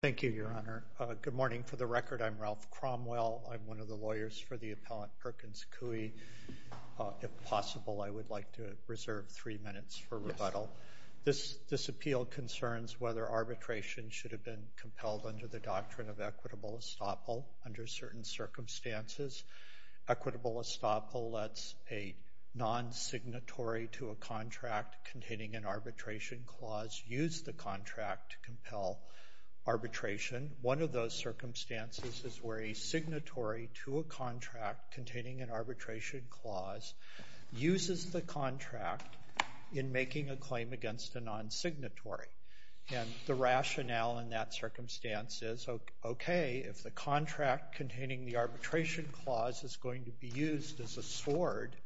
Thank you, Your Honor. Good morning. For the record, I'm Ralph Cromwell. I'm one of the lawyers for the appellant Perkins Coie. If possible, I would like to reserve three minutes for rebuttal. This appeal concerns whether arbitration should have been compelled under the doctrine of equitable estoppel under certain circumstances. Equitable estoppel lets a non-signatory to a contract containing an arbitration clause use the contract to compel arbitration. One of those circumstances is where a signatory to a contract containing an arbitration clause uses the contract in making a claim against a non-signatory. And the rationale in that circumstance is, okay, if the contract containing the arbitration clause is going to be used as a sword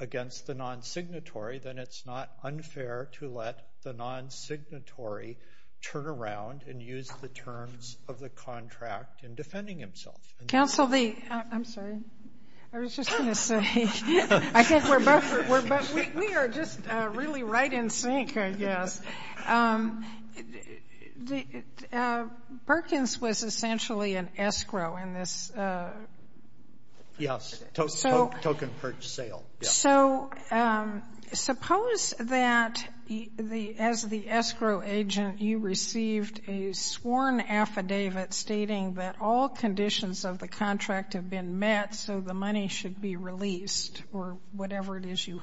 against the non-signatory, then it's not unfair to let the non-signatory turn around and use the terms of the contract in defending himself. Counsel, I'm sorry. I was just going to say, we are just really right in sync, I guess. Perkins was essentially an escrow in this. Yes. Token purchase sale. So suppose that as the escrow agent, you received a sworn affidavit stating that all conditions of the contract have been met, so the money should be released, or whatever it is you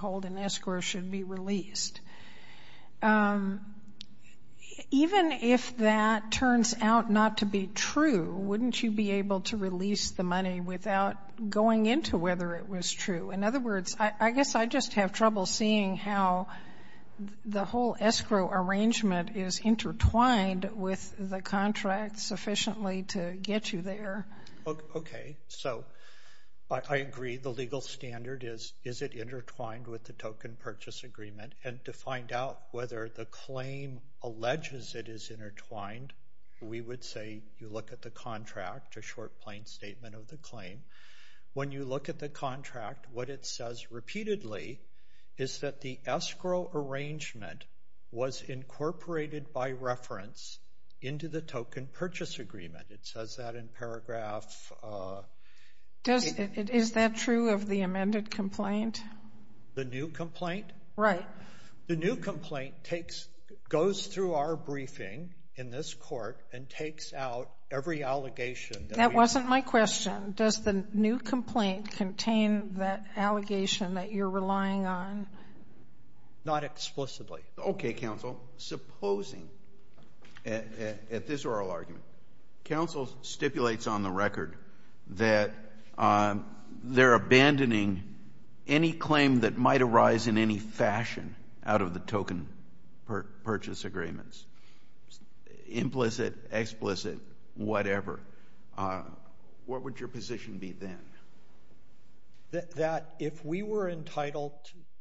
Even if that turns out not to be true, wouldn't you be able to release the money without going into whether it was true? In other words, I guess I just have trouble seeing how the whole escrow arrangement is intertwined with the contract sufficiently to get you there. Okay. So I agree the legal standard is, is it intertwined with the token purchase agreement, and to find out whether the claim alleges it is intertwined, we would say you look at the contract, a short, plain statement of the claim. When you look at the contract, what it says repeatedly is that the escrow arrangement was incorporated by reference into the token purchase agreement. It says that in paragraph... Is that true of the amended complaint? The new complaint? Right. The new complaint goes through our briefing in this court and takes out every allegation. That wasn't my question. Does the new complaint contain that allegation that you're relying on? Not explicitly. Okay, counsel. Supposing, at this oral argument, counsel stipulates on the record that they're any claim that might arise in any fashion out of the token purchase agreements, implicit, explicit, whatever, what would your position be then? That if we were entitled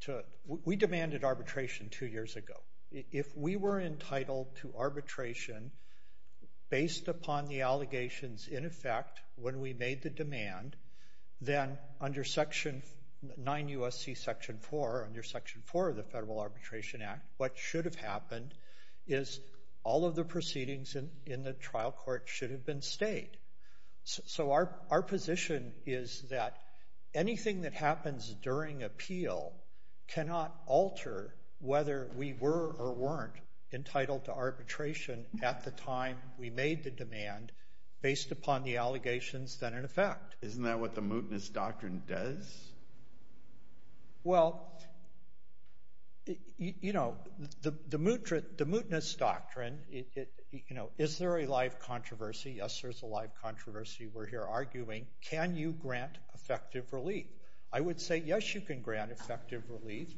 to... We demanded arbitration two years ago. If we were entitled to arbitration based upon the allegations in effect when we made the demand, then under section 9 U.S.C. section 4, under section 4 of the Federal Arbitration Act, what should have happened is all of the proceedings in the trial court should have been stayed. So our position is that anything that happens during appeal cannot alter whether we were or weren't entitled to arbitration at the time we made the demand based upon the allegations then in effect. Isn't that what the mootness doctrine does? Well, you know, the mootness doctrine, you know, is there a live controversy? Yes, there's a live controversy we're here arguing. Can you grant effective relief? I would say yes, you can grant effective relief.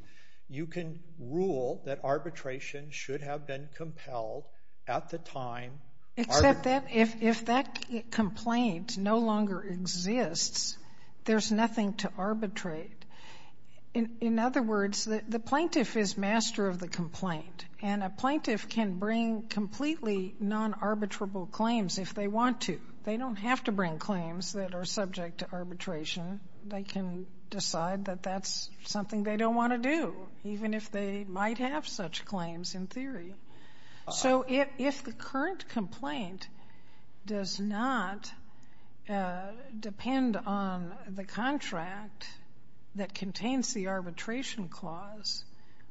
You can rule that arbitration should have been compelled at the time... But if that complaint no longer exists, there's nothing to arbitrate. In other words, the plaintiff is master of the complaint, and a plaintiff can bring completely non-arbitrable claims if they want to. They don't have to bring claims that are subject to arbitration. They can decide that that's something they don't want to do, even if they might have such claims in theory. So if the current complaint does not depend on the contract that contains the arbitration clause,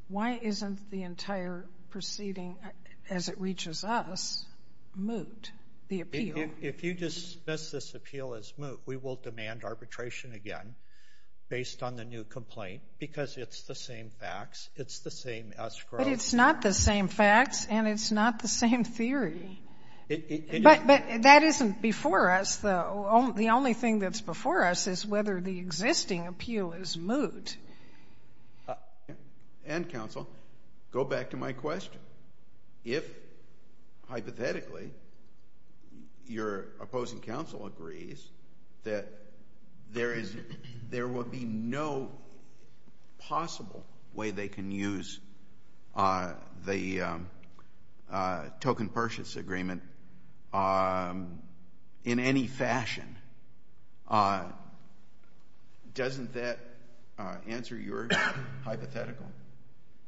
why isn't the entire proceeding as it reaches us moot, the appeal? If you dismiss this appeal as moot, we will demand arbitration again based on the new complaint because it's the same facts, it's the same escrow. But it's not the same facts and it's not the same theory. But that isn't before us, though. The only thing that's before us is whether the existing appeal is moot. And, counsel, go back to my question. If, hypothetically, your opposing counsel agrees that there would be no possible way they can use the token purchase agreement in any fashion, doesn't that answer your hypothetical?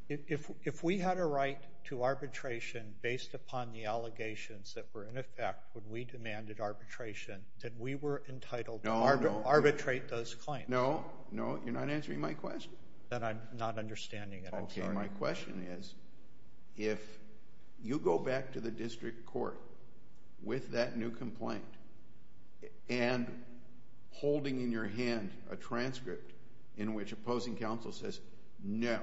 If we had a right to arbitration based upon the allegations that were in effect when we demanded arbitration, did we were entitled to arbitrate those claims? No, no. You're not answering my question. Then I'm not understanding it. Okay. My question is if you go back to the district court with that new complaint and holding in your hand a transcript in which opposing counsel says, no,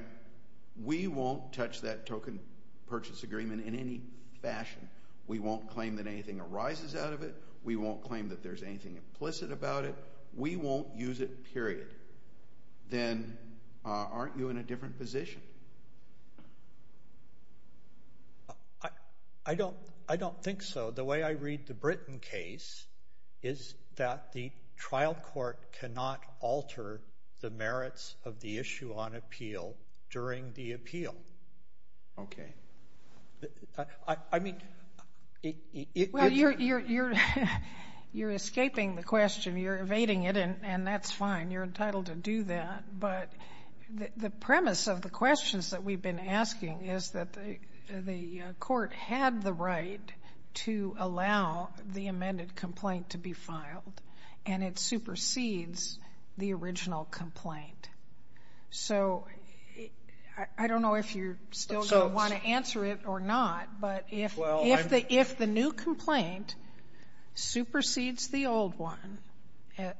we won't touch that token purchase agreement in any fashion, we won't claim that anything arises out of it, we won't claim that there's anything implicit about it, we won't use it, period, then aren't you in a different position? I don't think so. The way I read the Britain case is that the trial court cannot alter the merits of the issue on appeal during the appeal. Okay. Well, you're escaping the question. You're evading it, and that's fine. You're entitled to do that. But the premise of the questions that we've been asking is that the court had the right to allow the amended complaint to be filed, and it supersedes the original complaint. So I don't know if you still want to answer it or not, but if the new complaint supersedes the old one,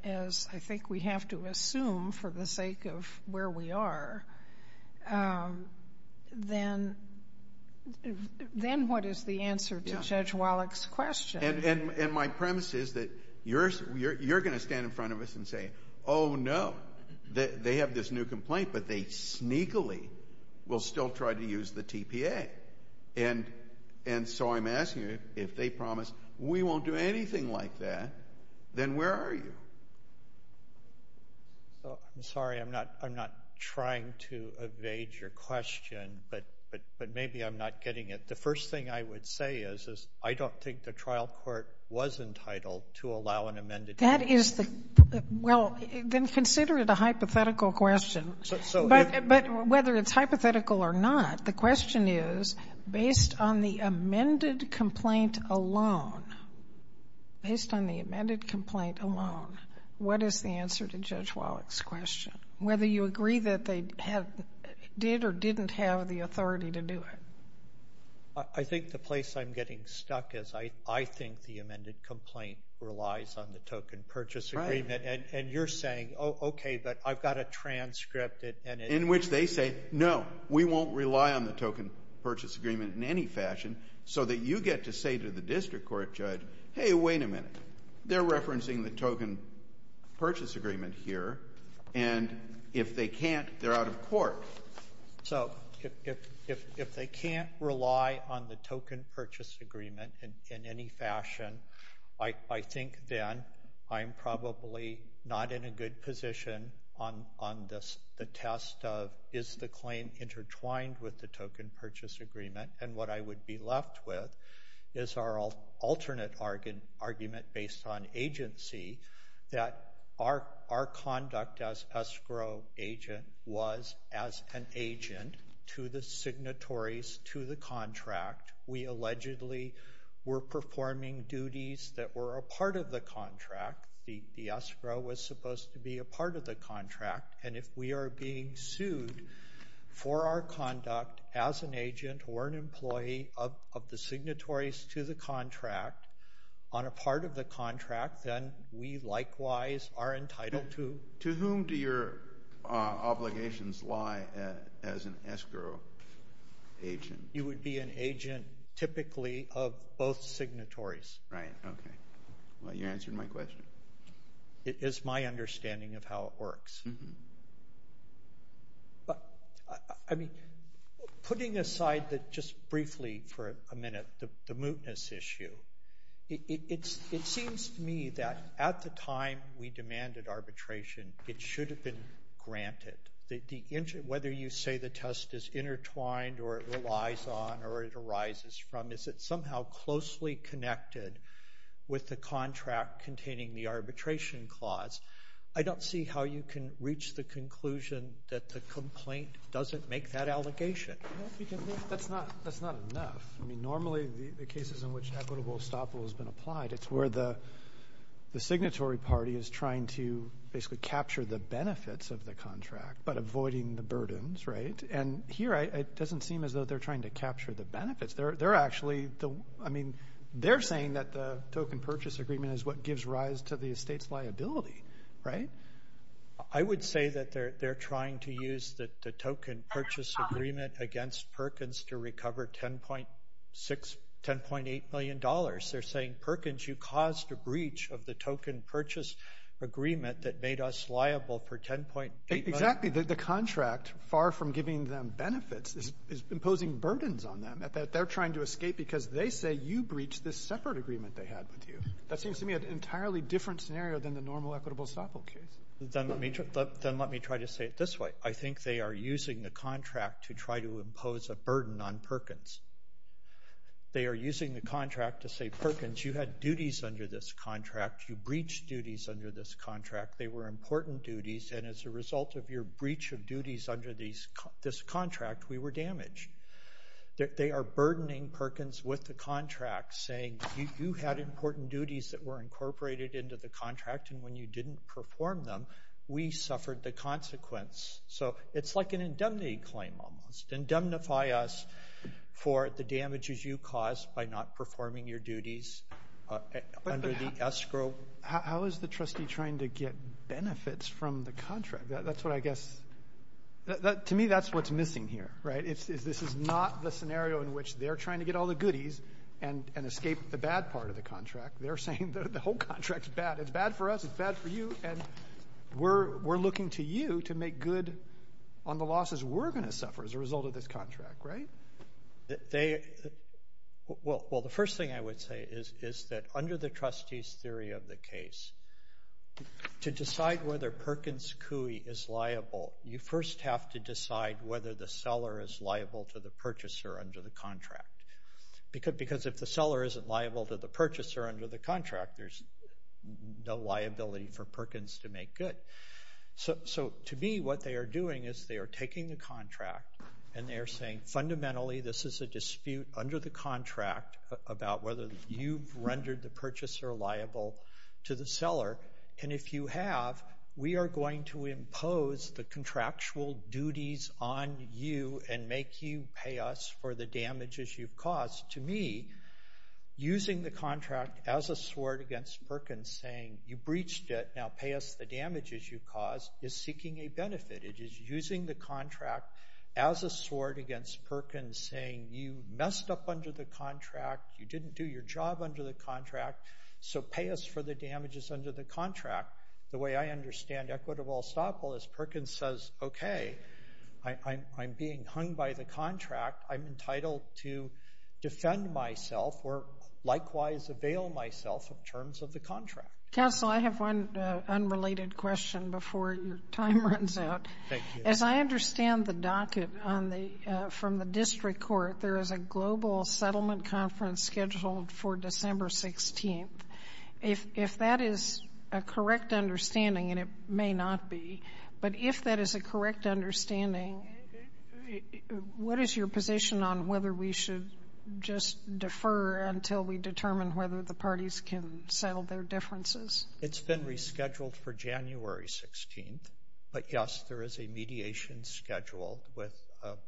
as I think we have to assume for the sake of where we are, then what is the answer to Judge Wallach's question? And my premise is that you're going to stand in front of us and say, oh, no, they have this new complaint, but they sneakily will still try to use the TPA. And so I'm asking you, if they promise we won't do anything like that, then where are you? I'm sorry. I'm not trying to evade your question, but maybe I'm not getting it. The first thing I would say is I don't think the trial court was entitled to allow an amended case. Well, then consider it a hypothetical question. But whether it's hypothetical or not, the question is, based on the amended complaint alone, based on the amended complaint alone, what is the answer to Judge Wallach's question, whether you agree that they did or didn't have the authority to do it? I think the place I'm getting stuck is I think the amended complaint relies on the token purchase agreement, and you're saying, oh, okay, but I've got a transcript. In which they say, no, we won't rely on the token purchase agreement in any fashion, so that you get to say to the district court judge, hey, wait a minute, they're referencing the token purchase agreement here, and if they can't, they're out of court. So if they can't rely on the token purchase agreement in any fashion, I think then I'm probably not in a good position on the test of, is the claim intertwined with the token purchase agreement? And what I would be left with is our alternate argument based on agency, that our conduct as escrow agent was as an agent to the signatories to the contract. We allegedly were performing duties that were a part of the contract. The escrow was supposed to be a part of the contract, and if we are being sued for our conduct as an agent or an employee of the signatories to the contract, on a part of the contract, then we likewise are entitled to. To whom do your obligations lie as an escrow agent? You would be an agent typically of both signatories. Right, okay. Well, you answered my question. It is my understanding of how it works. Putting aside just briefly for a minute the mootness issue, it seems to me that at the time we demanded arbitration, it should have been granted. Whether you say the test is intertwined or it relies on or it arises from, is it somehow closely connected with the contract containing the arbitration clause? I don't see how you can reach the conclusion that the complaint doesn't make that allegation. That's not enough. I mean, normally the cases in which equitable estoppel has been applied, it's where the signatory party is trying to basically capture the benefits of the contract but avoiding the burdens, right? And here it doesn't seem as though they're trying to capture the benefits. They're actually saying that the token purchase agreement is what gives rise to the estate's liability, right? I would say that they're trying to use the token purchase agreement against Perkins to recover $10.8 million. They're saying, Perkins, you caused a breach of the token purchase agreement that made us liable for $10.8 million. Exactly. The contract, far from giving them benefits, is imposing burdens on them. They're trying to escape because they say you breached this separate agreement they had with you. That seems to me an entirely different scenario than the normal equitable estoppel case. Then let me try to say it this way. I think they are using the contract to try to impose a burden on Perkins. They are using the contract to say, Perkins, you had duties under this contract. You breached duties under this contract. They were important duties, and as a result of your breach of duties under this contract, we were damaged. They are burdening Perkins with the contract, saying you had important duties that were incorporated into the contract, and when you didn't perform them, we suffered the consequence. So it's like an indemnity claim almost. Indemnify us for the damages you caused by not performing your duties under the escrow. How is the trustee trying to get benefits from the contract? That's what I guess to me that's what's missing here, right? This is not the scenario in which they're trying to get all the goodies and escape the bad part of the contract. They're saying the whole contract is bad. It's bad for us. It's bad for you, and we're looking to you to make good on the losses we're going to suffer as a result of this contract, right? Well, the first thing I would say is that under the trustee's theory of the case, to decide whether Perkins Coie is liable, you first have to decide whether the seller is liable to the purchaser under the contract, because if the seller isn't liable to the purchaser under the contract, there's no liability for Perkins to make good. So to me, what they are doing is they are taking the contract, and they are saying fundamentally this is a dispute under the contract about whether you've rendered the purchaser liable to the seller, and if you have, we are going to impose the contractual duties on you and make you pay us for the damages you've caused. To me, using the contract as a sword against Perkins, saying you breached it, and now pay us the damages you caused, is seeking a benefit. It is using the contract as a sword against Perkins, saying you messed up under the contract, you didn't do your job under the contract, so pay us for the damages under the contract. The way I understand equitable estoppel is Perkins says, okay, I'm being hung by the contract, I'm entitled to defend myself or likewise avail myself of terms of the contract. Counsel, I have one unrelated question before your time runs out. Thank you. As I understand the docket from the district court, there is a global settlement conference scheduled for December 16th. If that is a correct understanding, and it may not be, but if that is a correct understanding, what is your position on whether we should just defer until we determine whether the parties can settle their differences? It's been rescheduled for January 16th, but, yes, there is a mediation scheduled with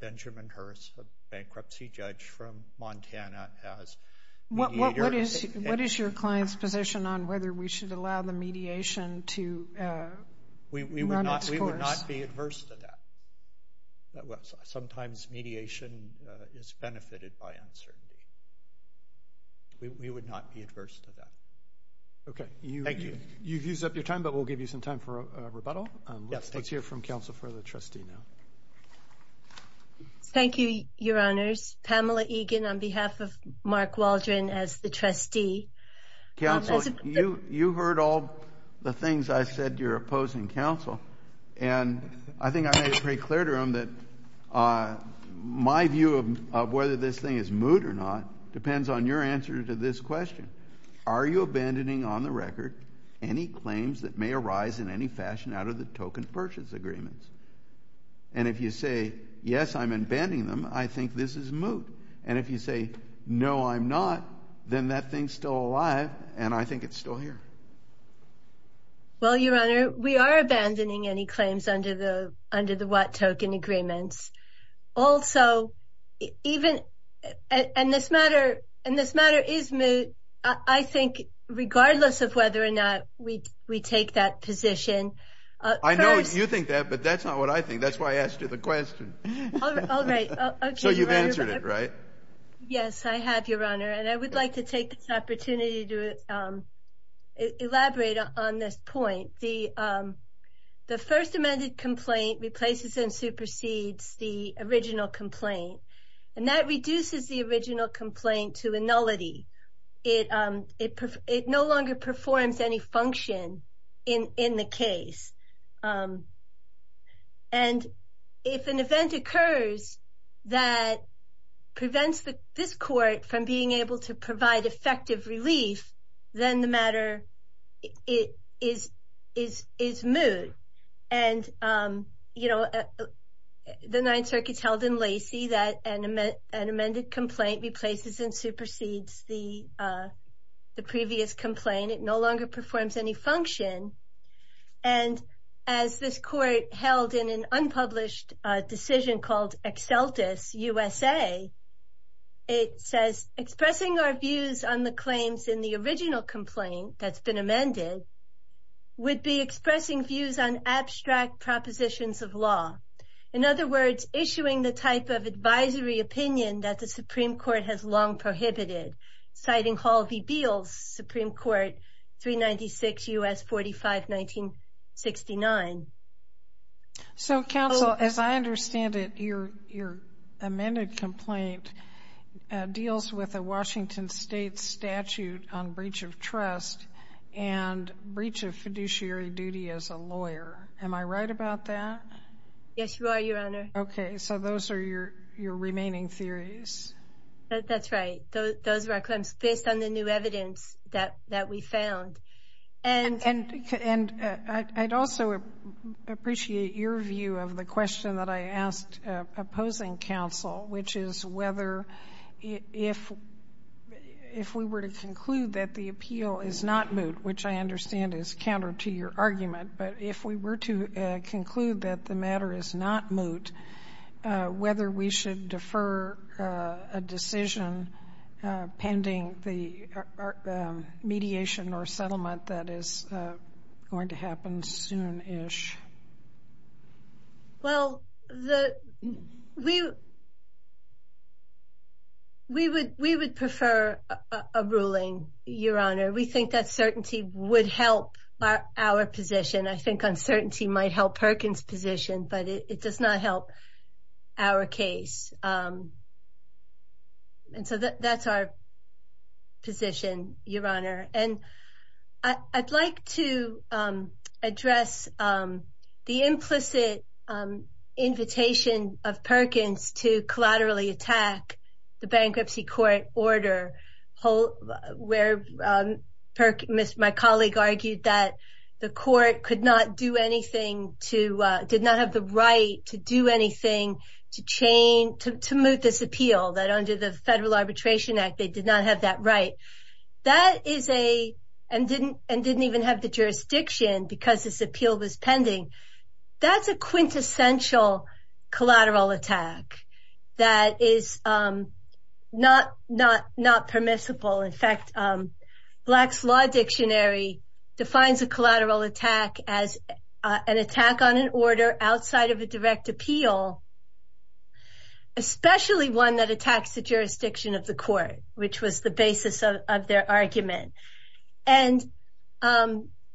Benjamin Hurst, a bankruptcy judge from Montana, as mediator. What is your client's position on whether we should allow the mediation to run its course? We would not be adverse to that. Sometimes mediation is benefited by uncertainty. We would not be adverse to that. Okay. Thank you. You've used up your time, but we'll give you some time for a rebuttal. Let's hear from counsel for the trustee now. Thank you, Your Honors. Pamela Egan on behalf of Mark Waldron as the trustee. Counsel, you heard all the things I said to your opposing counsel, and I think I made it pretty clear to them that my view of whether this thing is moot or not depends on your answer to this question. Are you abandoning on the record any claims that may arise in any fashion out of the token purchase agreements? And if you say, yes, I'm abandoning them, I think this is moot. And if you say, no, I'm not, then that thing's still alive, and I think it's still here. Well, Your Honor, we are abandoning any claims under the what token agreements. Also, and this matter is moot, I think regardless of whether or not we take that position. I know you think that, but that's not what I think. That's why I asked you the question. All right. So you've answered it, right? Yes, I have, Your Honor. And I would like to take this opportunity to elaborate on this point. The first amended complaint replaces and supersedes the original complaint, and that reduces the original complaint to a nullity. It no longer performs any function in the case. And if an event occurs that prevents this court from being able to provide effective relief, then the matter is moot. And, you know, the Ninth Circuit's held in lacy that an amended complaint replaces and supersedes the previous complaint. It no longer performs any function. And as this court held in an unpublished decision called ExCeltus USA, it says, expressing our views on the claims in the original complaint that's been amended would be expressing views on abstract propositions of law. In other words, issuing the type of advisory opinion that the Supreme Court has long prohibited, citing Hall v. Beals, Supreme Court 396 U.S. 45-1969. So, counsel, as I understand it, your amended complaint deals with a Washington State statute on breach of trust and breach of fiduciary duty as a lawyer. Am I right about that? Yes, you are, Your Honor. Okay. So those are your remaining theories. That's right. Those are our claims based on the new evidence that we found. And I'd also appreciate your view of the question that I asked opposing counsel, which is whether if we were to conclude that the appeal is not moot, which I understand is counter to your argument, but if we were to conclude that the matter is not moot, whether we should defer a decision pending the mediation or settlement that is going to happen soon-ish. Well, we would prefer a ruling, Your Honor. We think that certainty would help our position. I think uncertainty might help Perkins' position, but it does not help our case. And so that's our position, Your Honor. And I'd like to address the implicit invitation of Perkins to collaterally attack the bankruptcy court order where my colleague argued that the court could not do anything, did not have the right to do anything to moot this appeal, that under the Federal Arbitration Act they did not have that right, and didn't even have the jurisdiction because this appeal was pending. That's a quintessential collateral attack that is not permissible. In fact, Black's Law Dictionary defines a collateral attack as an attack on an order outside of a direct appeal, especially one that attacks the jurisdiction of the court, which was the basis of their argument. And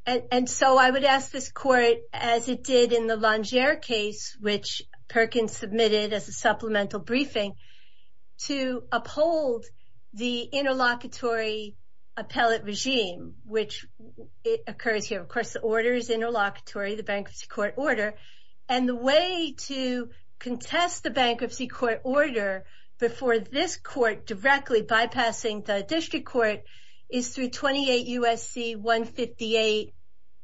so I would ask this court, as it did in the Longere case, which Perkins submitted as a supplemental briefing, to uphold the interlocutory appellate regime, which occurs here. Of course, the order is interlocutory, the bankruptcy court order, and the way to contest the bankruptcy court order before this court directly bypassing the district court is through 28 U.S.C. 158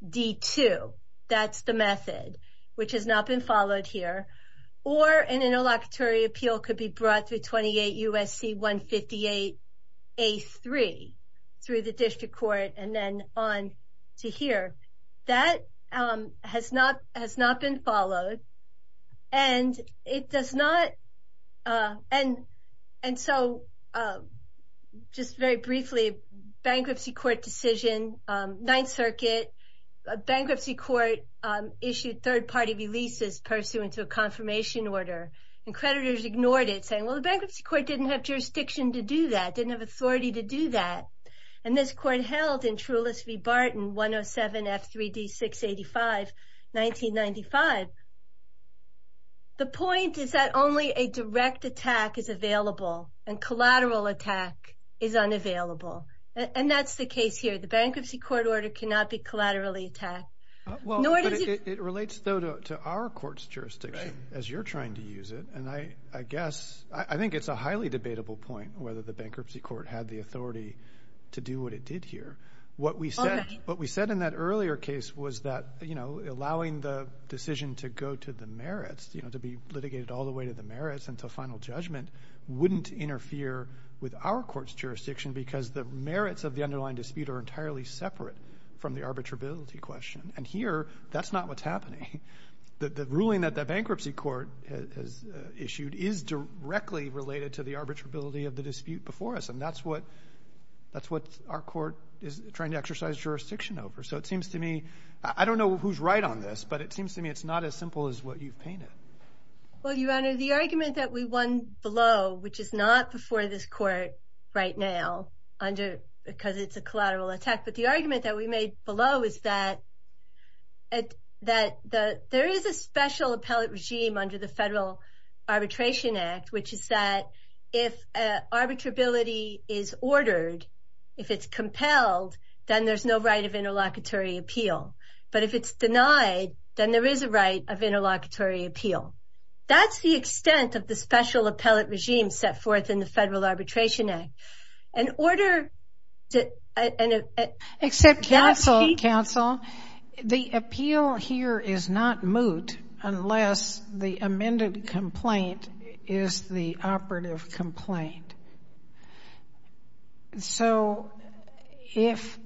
D.2. That's the method which has not been followed here. Or an interlocutory appeal could be brought through 28 U.S.C. 158 A.3 through the district court and then on to here. That has not been followed. And so just very briefly, bankruptcy court decision, Ninth Circuit, bankruptcy court issued third-party releases pursuant to a confirmation order. And creditors ignored it, saying, well, the bankruptcy court didn't have jurisdiction to do that, didn't have authority to do that. And this court held in Trulis v. Barton, 107 F.3.D. 685, 1995. The point is that only a direct attack is available, and collateral attack is unavailable. And that's the case here. The bankruptcy court order cannot be collaterally attacked. Well, it relates, though, to our court's jurisdiction, as you're trying to use it. I think it's a highly debatable point whether the bankruptcy court had the authority to do what it did here. What we said in that earlier case was that allowing the decision to go to the merits, to be litigated all the way to the merits until final judgment, wouldn't interfere with our court's jurisdiction because the merits of the underlying dispute are entirely separate from the arbitrability question. And here, that's not what's happening. The ruling that the bankruptcy court has issued is directly related to the arbitrability of the dispute before us, and that's what our court is trying to exercise jurisdiction over. So it seems to me, I don't know who's right on this, but it seems to me it's not as simple as what you've painted. Well, Your Honor, the argument that we won below, which is not before this court right now, because it's a collateral attack. But the argument that we made below is that there is a special appellate regime under the Federal Arbitration Act, which is that if arbitrability is ordered, if it's compelled, then there's no right of interlocutory appeal. But if it's denied, then there is a right of interlocutory appeal. That's the extent of the special appellate regime set forth in the Federal Arbitration Act. In order to – Except counsel, counsel, the appeal here is not moot unless the amended complaint is the operative complaint. So if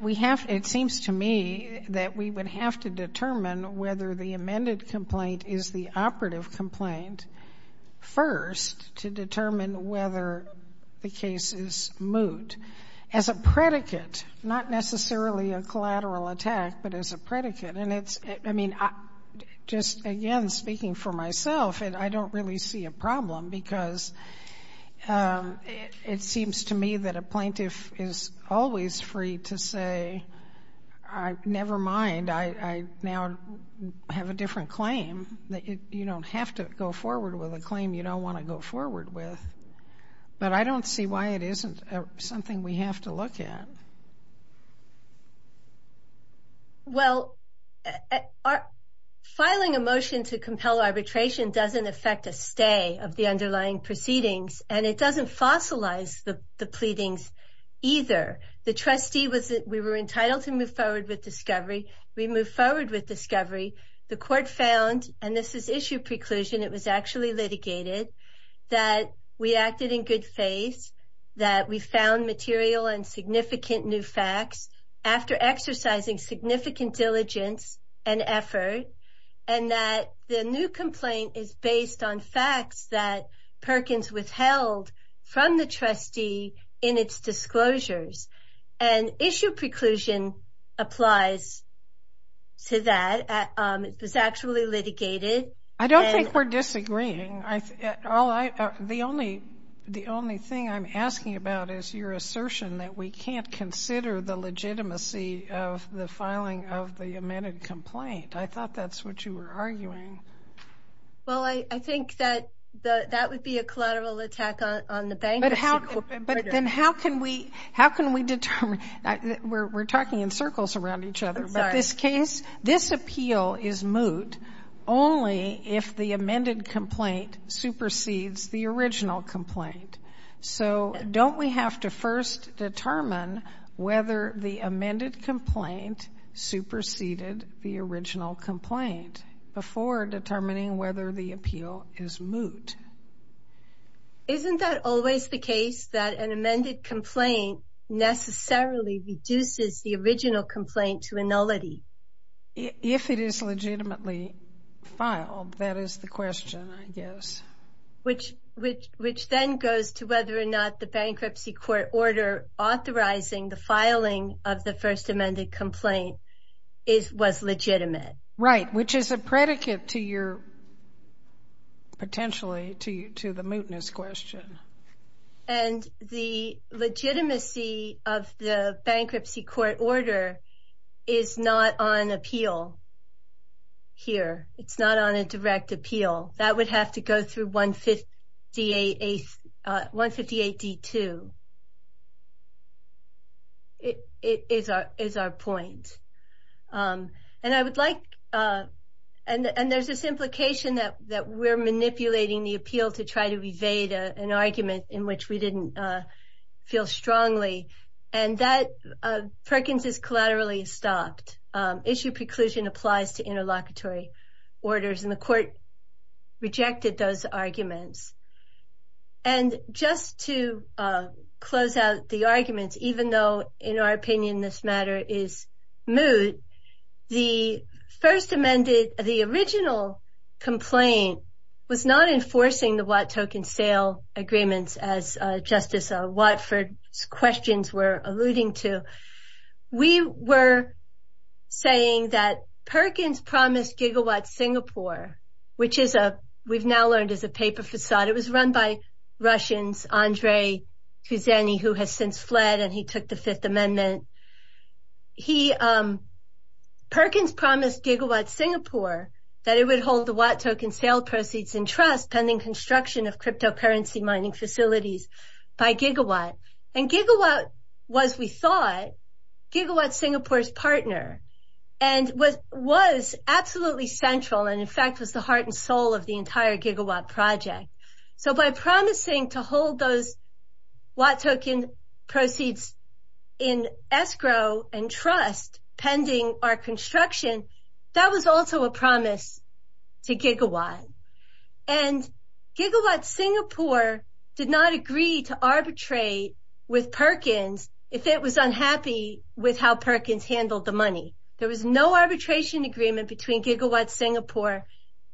we have – it seems to me that we would have to determine whether the amended complaint is the operative complaint first to determine whether the case is moot as a predicate, not necessarily a collateral attack, but as a predicate. And it's – I mean, just again speaking for myself, I don't really see a problem, because it seems to me that a plaintiff is always free to say, never mind, I now have a different claim. You don't have to go forward with a claim you don't want to go forward with. But I don't see why it isn't something we have to look at. Well, filing a motion to compel arbitration doesn't affect a stay of the underlying proceedings, and it doesn't fossilize the pleadings either. The trustee was – we were entitled to move forward with discovery. We moved forward with discovery. The court found – and this is issue preclusion, it was actually litigated – that we acted in good faith, that we found material and significant new facts after exercising significant diligence and effort, and that the new complaint is based on facts that Perkins withheld from the trustee in its disclosures. And issue preclusion applies to that. It was actually litigated. I don't think we're disagreeing. The only thing I'm asking about is your assertion that we can't consider the legitimacy of the filing of the amended complaint. I thought that's what you were arguing. Well, I think that that would be a collateral attack on the bankruptcy court. But then how can we determine – we're talking in circles around each other. I'm sorry. But this case, this appeal is moot only if the amended complaint supersedes the original complaint. So don't we have to first determine whether the amended complaint superseded the original complaint before determining whether the appeal is moot? Isn't that always the case that an amended complaint necessarily reduces the original complaint to a nullity? If it is legitimately filed, that is the question, I guess. Which then goes to whether or not the bankruptcy court order authorizing the filing of the first amended complaint was legitimate. Right, which is a predicate to your – potentially to the mootness question. And the legitimacy of the bankruptcy court order is not on appeal here. It's not on a direct appeal. That would have to go through 158D2 is our point. And I would like – and there's this implication that we're manipulating the appeal to try to evade an argument in which we didn't feel strongly. And that Perkins is collaterally stopped. Issue preclusion applies to interlocutory orders. And the court rejected those arguments. And just to close out the arguments, even though in our opinion this matter is moot, the first amended – the original complaint was not enforcing the Watt token sale agreements as Justice Watford's questions were alluding to. We were saying that Perkins promised Gigawatt Singapore, which is a – we've now learned is a paper facade. It was run by Russians, Andrei Kuzeni, who has since fled and he took the Fifth Amendment. He – Perkins promised Gigawatt Singapore that it would hold the Watt token sale proceeds in trust pending construction of cryptocurrency mining facilities by Gigawatt. And Gigawatt was, we thought, Gigawatt Singapore's partner and was absolutely central and in fact was the heart and soul of the entire Gigawatt project. So by promising to hold those Watt token proceeds in escrow and trust pending our construction, that was also a promise to Gigawatt. And Gigawatt Singapore did not agree to arbitrate with Perkins if it was unhappy with how Perkins handled the money. There was no arbitration agreement between Gigawatt Singapore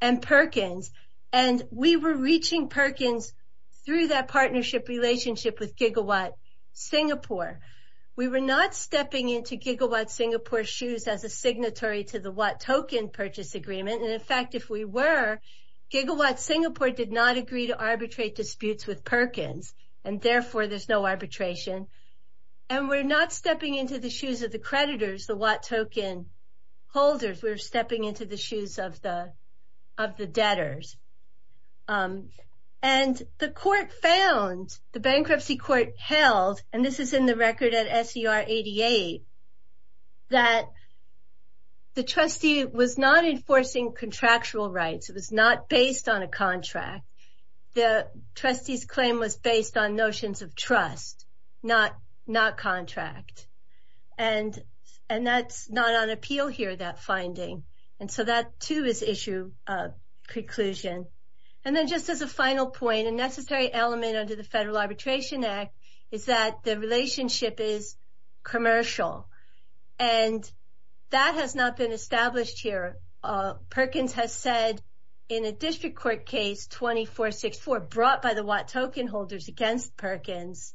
and Perkins. And we were reaching Perkins through that partnership relationship with Gigawatt Singapore. We were not stepping into Gigawatt Singapore's shoes as a signatory to the Watt token purchase agreement. And in fact, if we were, Gigawatt Singapore did not agree to arbitrate disputes with Perkins and therefore there's no arbitration. And we're not stepping into the shoes of the creditors, the Watt token holders. We're stepping into the shoes of the debtors. And the court found, the bankruptcy court held, and this is in the record at SER 88, that the trustee was not enforcing contractual rights. It was not based on a contract. The trustee's claim was based on notions of trust, not contract. And that's not on appeal here, that finding. And so that too is issue of conclusion. And then just as a final point, a necessary element under the Federal Arbitration Act is that the relationship is commercial. And that has not been established here. Perkins has said in a district court case 2464 brought by the Watt token holders against Perkins,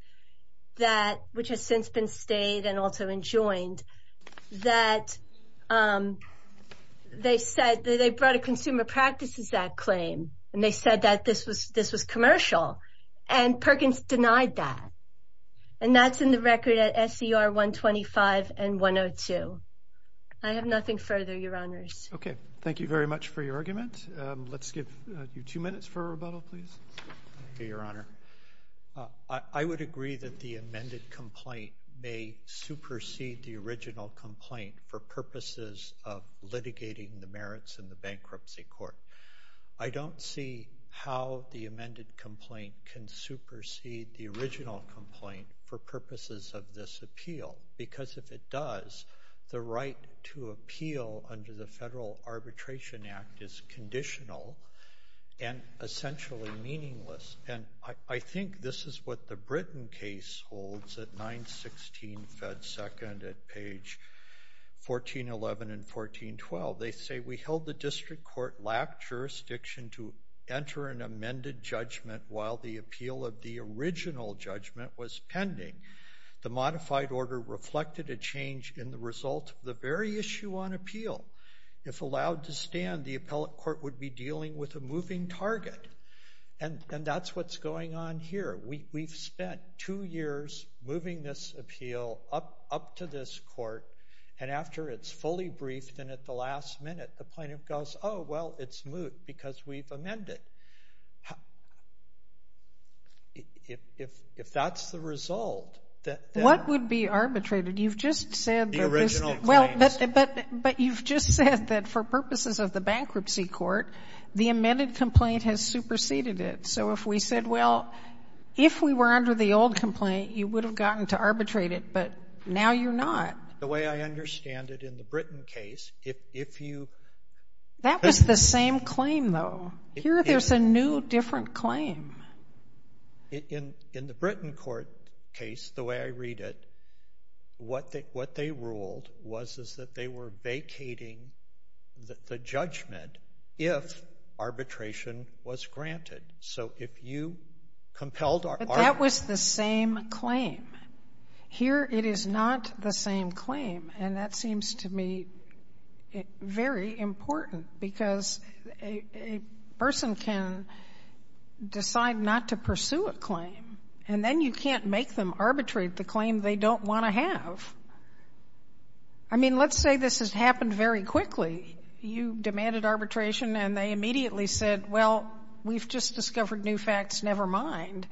which has since been stayed and also enjoined, that they brought a Consumer Practices Act claim. And they said that this was commercial. And Perkins denied that. And that's in the record at SER 125 and 102. I have nothing further, Your Honors. Okay, thank you very much for your argument. Let's give you two minutes for rebuttal, please. Thank you, Your Honor. I would agree that the amended complaint may supersede the original complaint for purposes of litigating the merits in the bankruptcy court. I don't see how the amended complaint can supersede the original complaint for purposes of this appeal. Because if it does, the right to appeal under the Federal Arbitration Act is conditional and essentially meaningless. And I think this is what the Britain case holds at 916 Fed Second at page 1411 and 1412. They say, we held the district court lacked jurisdiction to enter an amended judgment while the appeal of the original judgment was pending. The modified order reflected a change in the result of the very issue on appeal. If allowed to stand, the appellate court would be dealing with a moving target. And that's what's going on here. We've spent two years moving this appeal up to this court. And after it's fully briefed and at the last minute, the plaintiff goes, oh, well, it's moot because we've amended. If that's the result that the original claims. What would be arbitrated? You've just said that for purposes of the bankruptcy court, the amended complaint has superseded it. So if we said, well, if we were under the old complaint, you would have gotten to arbitrate it. But now you're not. The way I understand it in the Britain case, if you — That was the same claim, though. Here there's a new, different claim. In the Britain court case, the way I read it, what they ruled was that they were vacating the judgment if arbitration was granted. So if you compelled our — But that was the same claim. Here it is not the same claim. And that seems to me very important because a person can decide not to pursue a claim, and then you can't make them arbitrate the claim they don't want to have. I mean, let's say this has happened very quickly. You demanded arbitration and they immediately said, well, we've just discovered new facts, never mind.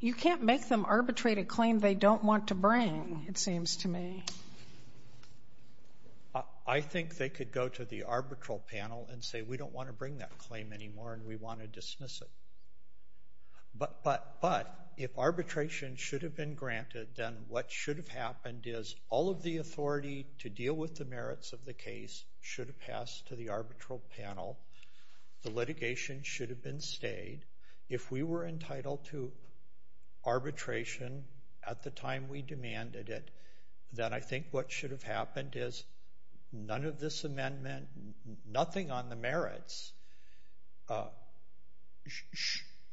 You can't make them arbitrate a claim they don't want to bring, it seems to me. I think they could go to the arbitral panel and say, we don't want to bring that claim anymore and we want to dismiss it. But if arbitration should have been granted, then what should have happened is all of the authority to deal with the merits of the case should have passed to the arbitral panel. The litigation should have been stayed. If we were entitled to arbitration at the time we demanded it, then I think what should have happened is none of this amendment, nothing on the merits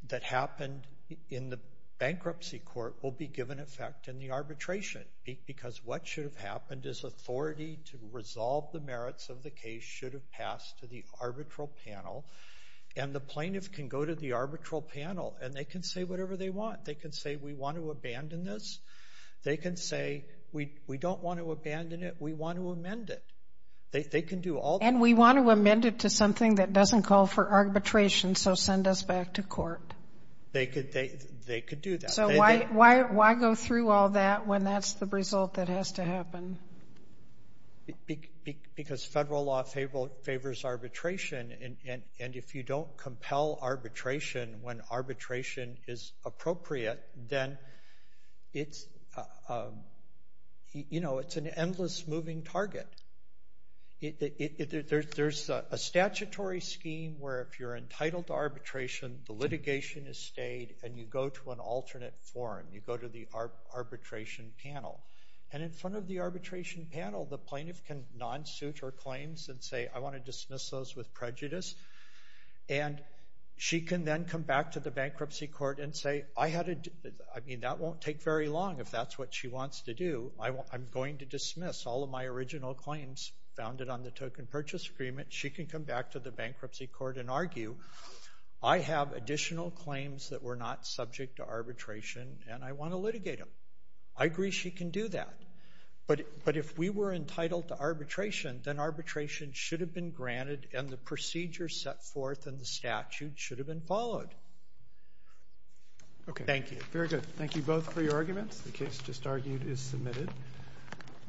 that happened in the bankruptcy court will be given effect in the arbitration because what should have happened is authority to resolve the merits of the case should have passed to the arbitral panel. And the plaintiff can go to the arbitral panel and they can say whatever they want. They can say, we want to abandon this. They can say, we don't want to abandon it, we want to amend it. They can do all that. And we want to amend it to something that doesn't call for arbitration, so send us back to court. They could do that. So why go through all that when that's the result that has to happen? Because federal law favors arbitration, and if you don't compel arbitration when arbitration is appropriate, then it's an endless moving target. There's a statutory scheme where if you're entitled to arbitration, the litigation is stayed and you go to an alternate forum. You go to the arbitration panel. And in front of the arbitration panel, the plaintiff can non-suit her claims and say, I want to dismiss those with prejudice. And she can then come back to the bankruptcy court and say, I mean, that won't take very long if that's what she wants to do. I'm going to dismiss all of my original claims founded on the token purchase agreement. She can come back to the bankruptcy court and argue, I have additional claims that were not subject to arbitration and I want to litigate them. I agree she can do that. But if we were entitled to arbitration, then arbitration should have been granted and the procedure set forth in the statute should have been followed. Thank you. Very good. Thank you both for your arguments. The case just argued is submitted.